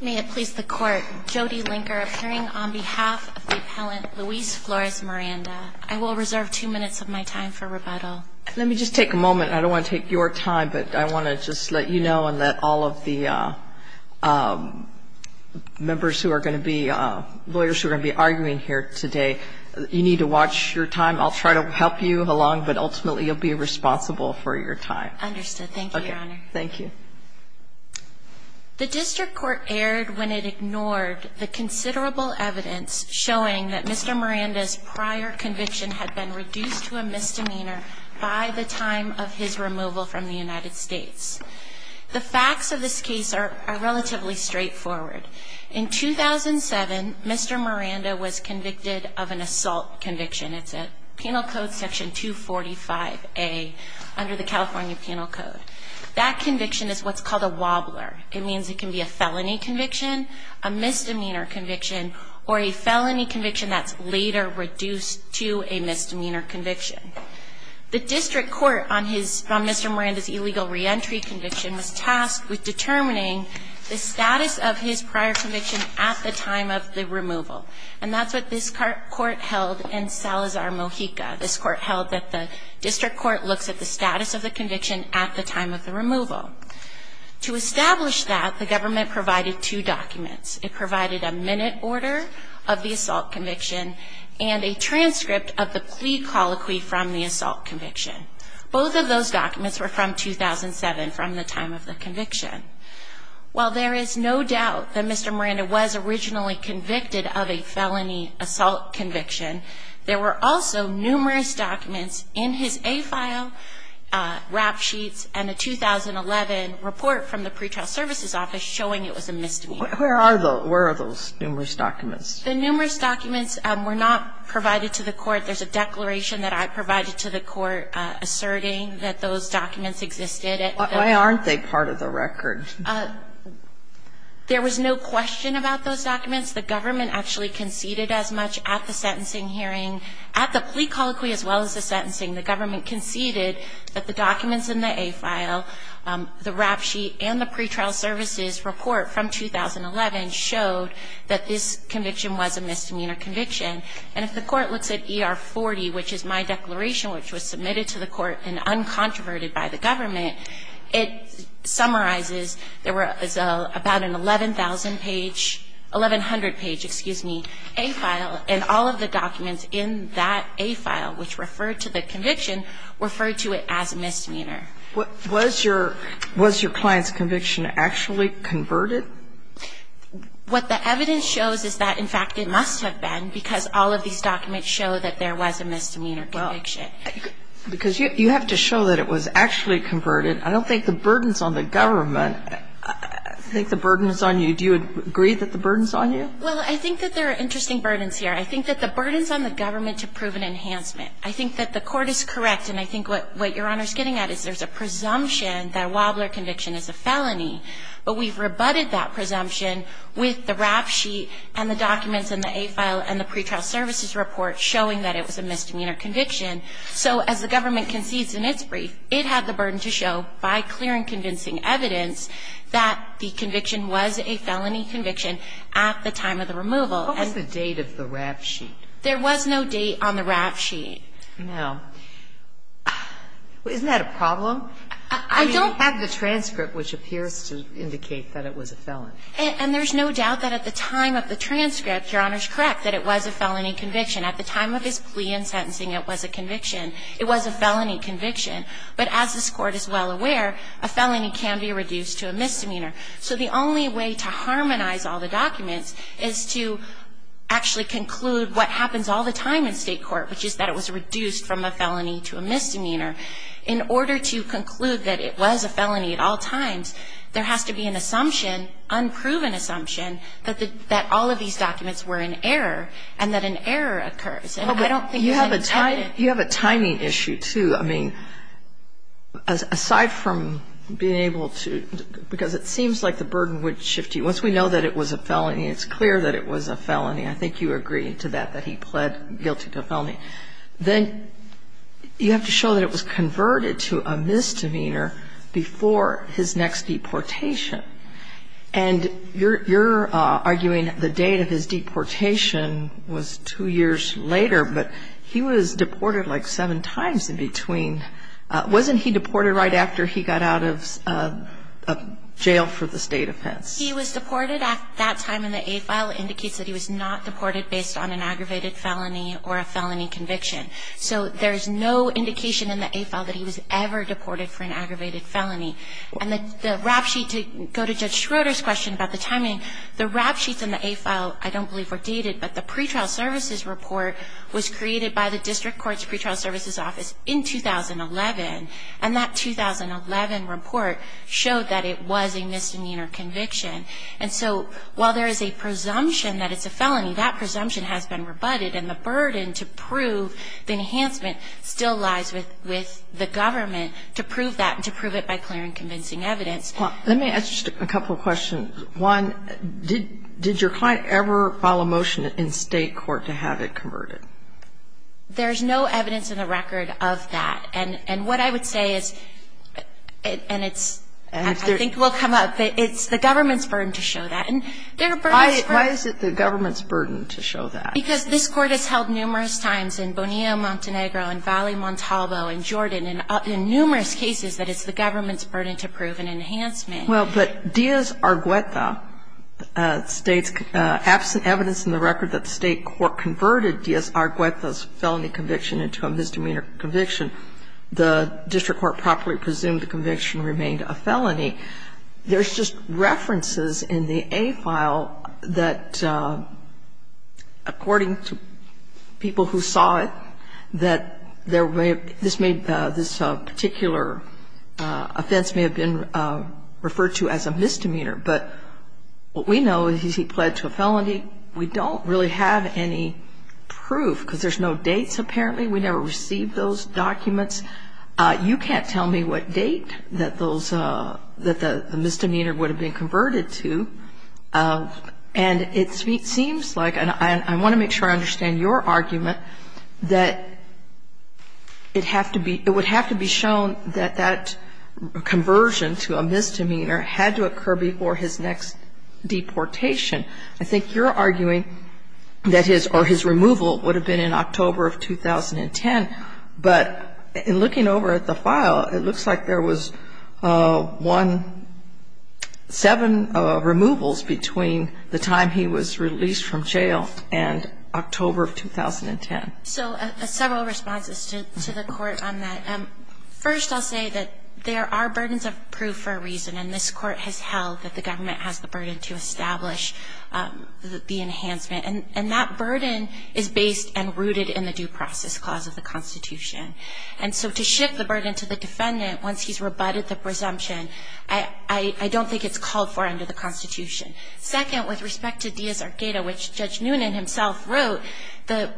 May it please the court, Jody Linker appearing on behalf of the appellant Luis Flores Miranda. I will reserve two minutes of my time for rebuttal. Let me just take a moment. I don't want to take your time, but I want to just let you know and let all of the members who are going to be – lawyers who are going to be arguing here today, you need to watch your time. I'll try to help you along, but ultimately you'll be responsible for your time. Understood. Thank you, Your Honor. Thank you. The district court erred when it ignored the considerable evidence showing that Mr. Miranda's prior conviction had been reduced to a misdemeanor by the time of his removal from the United States. The facts of this case are relatively straightforward. In 2007, Mr. Miranda was convicted of an assault conviction. It's at Penal Code Section 245A under the California Penal Code. That conviction is what's called a wobbler. It means it can be a felony conviction, a misdemeanor conviction, or a felony conviction that's later reduced to a misdemeanor conviction. The district court on his – on Mr. Miranda's illegal reentry conviction was tasked with determining the status of his prior conviction at the time of the removal. And that's what this court held in Salazar, Mojica. This court held that the district court looks at the status of the conviction at the time of the removal. To establish that, the government provided two documents. It provided a minute order of the assault conviction and a transcript of the plea colloquy from the assault conviction. Both of those documents were from 2007, from the time of the conviction. While there is no doubt that Mr. Miranda was originally convicted of a felony assault conviction, there were also numerous documents in his A file, rap sheets, and a 2011 report from the pretrial services office showing it was a misdemeanor. Where are the – where are those numerous documents? The numerous documents were not provided to the court. There's a declaration that I provided to the court asserting that those documents existed at the time. Why aren't they part of the record? There was no question about those documents. The government actually conceded as much at the sentencing hearing. At the plea colloquy as well as the sentencing, the government conceded that the documents in the A file, the rap sheet, and the pretrial services report from 2011 showed that this conviction was a misdemeanor conviction. And if the court looks at ER 40, which is my declaration, which was submitted to the court and uncontroverted by the government, it summarizes there was about an 11,000-page – 1,100-page, excuse me, A file, and all of the documents in that A file which referred to the conviction referred to it as a misdemeanor. Was your client's conviction actually converted? What the evidence shows is that, in fact, it must have been because all of these documents show that there was a misdemeanor conviction. Because you have to show that it was actually converted. I don't think the burdens on the government, I think the burden is on you. Do you agree that the burden is on you? Well, I think that there are interesting burdens here. I think that the burden is on the government to prove an enhancement. I think that the court is correct, and I think what Your Honor is getting at is there's a presumption that a Wobbler conviction is a felony, but we've rebutted that presumption with the rap sheet and the documents in the A file and the pretrial services report showing that it was a misdemeanor conviction. So as the government concedes in its brief, it had the burden to show, by clear and convincing evidence, that the conviction was a felony conviction at the time of the removal. What was the date of the rap sheet? There was no date on the rap sheet. Now, isn't that a problem? I don't have the transcript which appears to indicate that it was a felony. And there's no doubt that at the time of the transcript, Your Honor's correct, that it was a felony conviction. At the time of his plea and sentencing, it was a conviction. It was a felony conviction. But as this Court is well aware, a felony can be reduced to a misdemeanor. So the only way to harmonize all the documents is to actually conclude what happens all the time in state court, which is that it was reduced from a felony to a misdemeanor. In order to conclude that it was a felony at all times, there has to be an assumption, an unproven assumption, that all of these documents were in error and that an error occurs. And I don't think there's any doubt in it. Well, but you have a timing issue, too. I mean, aside from being able to – because it seems like the burden would shift you. Once we know that it was a felony, it's clear that it was a felony. I think you agree to that, that he pled guilty to felony. Then you have to show that it was converted to a misdemeanor before his next deportation. And you're arguing the date of his deportation was two years later, but he was deported like seven times in between. Wasn't he deported right after he got out of jail for the state offense? He was deported at that time in the A file. It indicates that he was not deported based on an aggravated felony or a felony conviction. So there's no indication in the A file that he was ever deported for an aggravated felony. And the rap sheet – to go to Judge Schroeder's question about the timing, the rap sheets in the A file I don't believe were dated, but the pretrial services report was created by the district court's pretrial services office in 2011. And that 2011 report showed that it was a misdemeanor conviction. And so while there is a presumption that it's a felony, that presumption has been rebutted, and the burden to prove the enhancement still lies with the government to prove that and to prove it by clear and convincing evidence. Well, let me ask you a couple of questions. One, did your client ever file a motion in state court to have it converted? There's no evidence in the record of that. And what I would say is – and it's – I think it will come up. It's the government's burden to show that. Why is it the government's burden to show that? Because this Court has held numerous times in Bonilla, Montenegro, and Valley, and Montalvo, and Jordan, and in numerous cases that it's the government's burden to prove an enhancement. Well, but Diaz-Argüeta states, absent evidence in the record that the state court converted Diaz-Argüeta's felony conviction into a misdemeanor conviction, the district court properly presumed the conviction remained a felony. There's just references in the A file that, according to people who saw it, this particular offense may have been referred to as a misdemeanor. But what we know is he pled to a felony. We don't really have any proof because there's no dates, apparently. We never received those documents. You can't tell me what date that the misdemeanor would have been converted to. And it seems like, and I want to make sure I understand your argument, that it would have to be shown that that conversion to a misdemeanor had to occur before his next deportation. I think you're arguing that his removal would have been in October of 2010. But in looking over at the file, it looks like there was one, seven removals between the time he was released from jail and October of 2010. So several responses to the court on that. First, I'll say that there are burdens of proof for a reason, and this court has held that the government has the burden to establish the enhancement. And that burden is based and rooted in the Due Process Clause of the Constitution. And so to shift the burden to the defendant once he's rebutted the presumption, I don't think it's called for under the Constitution. Second, with respect to Diaz-Arqueda, which Judge Noonan himself wrote, the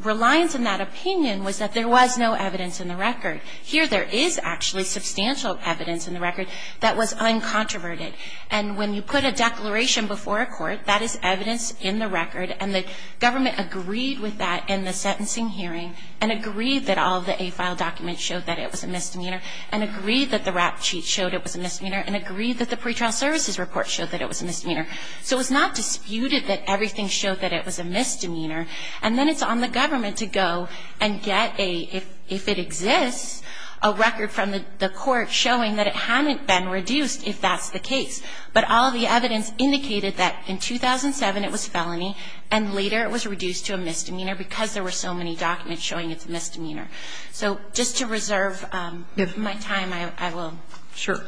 reliance on that opinion was that there was no evidence in the record. Here there is actually substantial evidence in the record that was uncontroverted. And when you put a declaration before a court, that is evidence in the record, and the government agreed with that in the sentencing hearing and agreed that all of the A file documents showed that it was a misdemeanor and agreed that the rap cheat showed it was a misdemeanor and agreed that the pretrial services report showed that it was a misdemeanor. So it's not disputed that everything showed that it was a misdemeanor. And then it's on the government to go and get a, if it exists, a record from the court showing that it hadn't been reduced if that's the case. But all the evidence indicated that in 2007 it was felony and later it was reduced to a misdemeanor because there were so many documents showing it's a misdemeanor. So just to reserve my time, I will. Sure.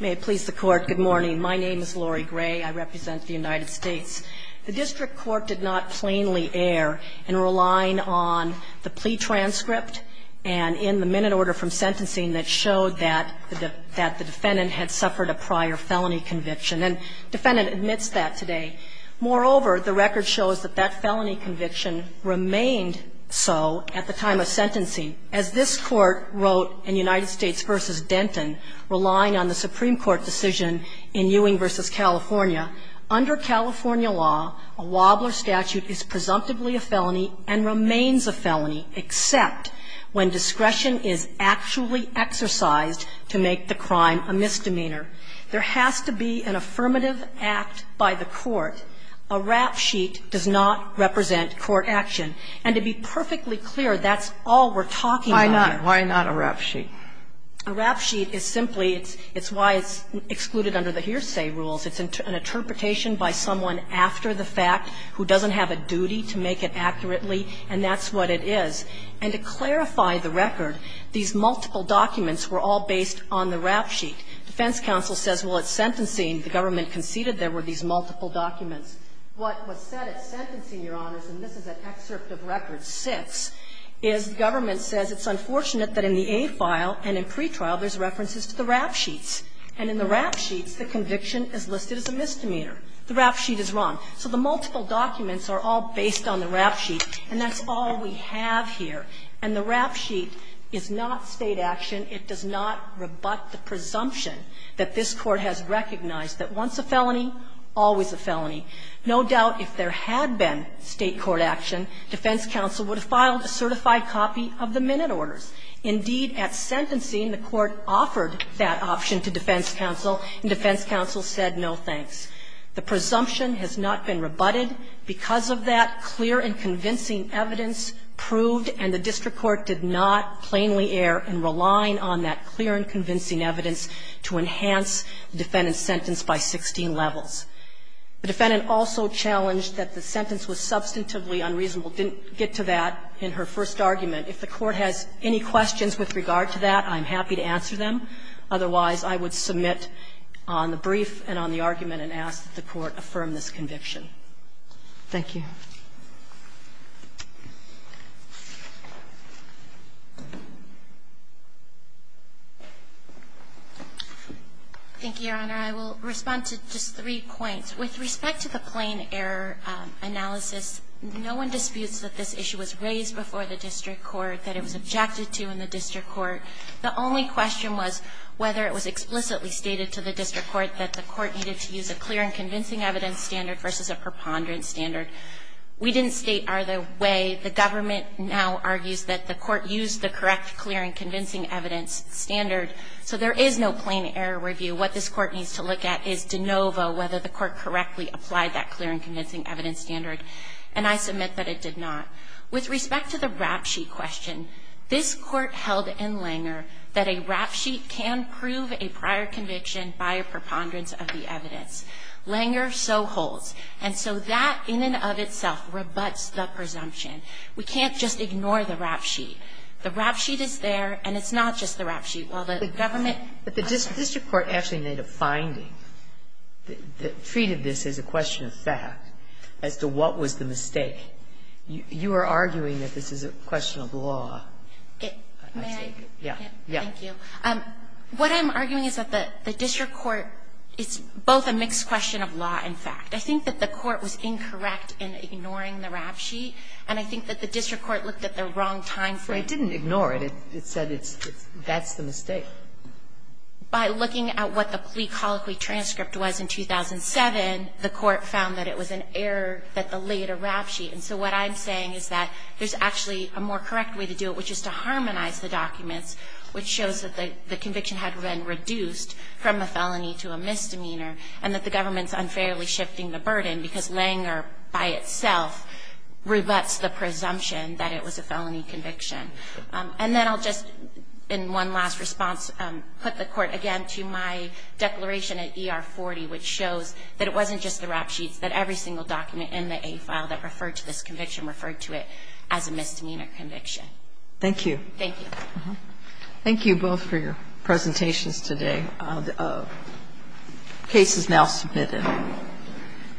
May it please the Court. Good morning. My name is Lori Gray. I represent the United States. The district court did not plainly err in relying on the plea transcript and in the minute order from sentencing that showed that the defendant had suffered a prior felony conviction. And the defendant admits that today. Moreover, the record shows that that felony conviction remained so at the time of sentencing. As this Court wrote in United States v. Denton, relying on the Supreme Court decision in Ewing v. California, under California law, a Wobbler statute is presumptively a felony and remains a felony except when discretion is actually exercised to make the crime a misdemeanor. There has to be an affirmative act by the court. A rap sheet does not represent court action. And to be perfectly clear, that's all we're talking about here. Why not? Why not a rap sheet? A rap sheet is simply, it's why it's excluded under the hearsay rules. It's an interpretation by someone after the fact who doesn't have a duty to make it accurately, and that's what it is. And to clarify the record, these multiple documents were all based on the rap sheet. Defense counsel says, well, at sentencing, the government conceded there were these What was said at sentencing, Your Honors, and this is an excerpt of record 6, is the government says it's unfortunate that in the A file and in pretrial there's references to the rap sheets. And in the rap sheets, the conviction is listed as a misdemeanor. The rap sheet is wrong. So the multiple documents are all based on the rap sheet, and that's all we have here. And the rap sheet is not State action. It does not rebut the presumption that this Court has recognized that once a felony, always a felony. No doubt if there had been State court action, defense counsel would have filed a certified copy of the minute orders. Indeed, at sentencing, the Court offered that option to defense counsel, and defense counsel said no thanks. The presumption has not been rebutted. Because of that, clear and convincing evidence proved, and the district court did not plainly err in relying on that clear and convincing evidence to enhance the defendant's sentence by 16 levels. The defendant also challenged that the sentence was substantively unreasonable. Didn't get to that in her first argument. If the Court has any questions with regard to that, I'm happy to answer them. Otherwise, I would submit on the brief and on the argument and ask that the Court affirm this conviction. Thank you. Thank you, Your Honor. I will respond to just three points. With respect to the plain error analysis, no one disputes that this issue was raised before the district court, that it was objected to in the district court. The only question was whether it was explicitly stated to the district court that the court needed to use a clear and convincing evidence standard versus a preponderant standard. We didn't state either way. The government now argues that the court used the correct clear and convincing evidence standard. So there is no plain error review. What this Court needs to look at is de novo whether the court correctly applied that clear and convincing evidence standard. And I submit that it did not. With respect to the rap sheet question, this Court held in Langer that a rap sheet can prove a prior conviction by a preponderance of the evidence. Langer so holds. And so that in and of itself rebuts the presumption. We can't just ignore the rap sheet. The rap sheet is there, and it's not just the rap sheet. While the government ---- But the district court actually made a finding that treated this as a question of fact as to what was the mistake. You are arguing that this is a question of law. May I? Yes. Thank you. What I'm arguing is that the district court is both a mixed question of law and fact. I think that the court was incorrect in ignoring the rap sheet, and I think that the district court looked at the wrong time frame. It didn't ignore it. It said it's the mistake. By looking at what the plea colloquy transcript was in 2007, the court found that it was an error that the later rap sheet. And so what I'm saying is that there's actually a more correct way to do it, which is to harmonize the documents, which shows that the conviction had been reduced from a felony to a misdemeanor, and that the government's unfairly shifting the burden because Langer by itself rebuts the presumption that it was a felony conviction. And then I'll just, in one last response, put the court again to my declaration at ER40, which shows that it wasn't just the rap sheets, that every single document in the A file that referred to this conviction referred to it as a misdemeanor conviction. Thank you. Thank you. Thank you both for your presentations today. The case is now submitted.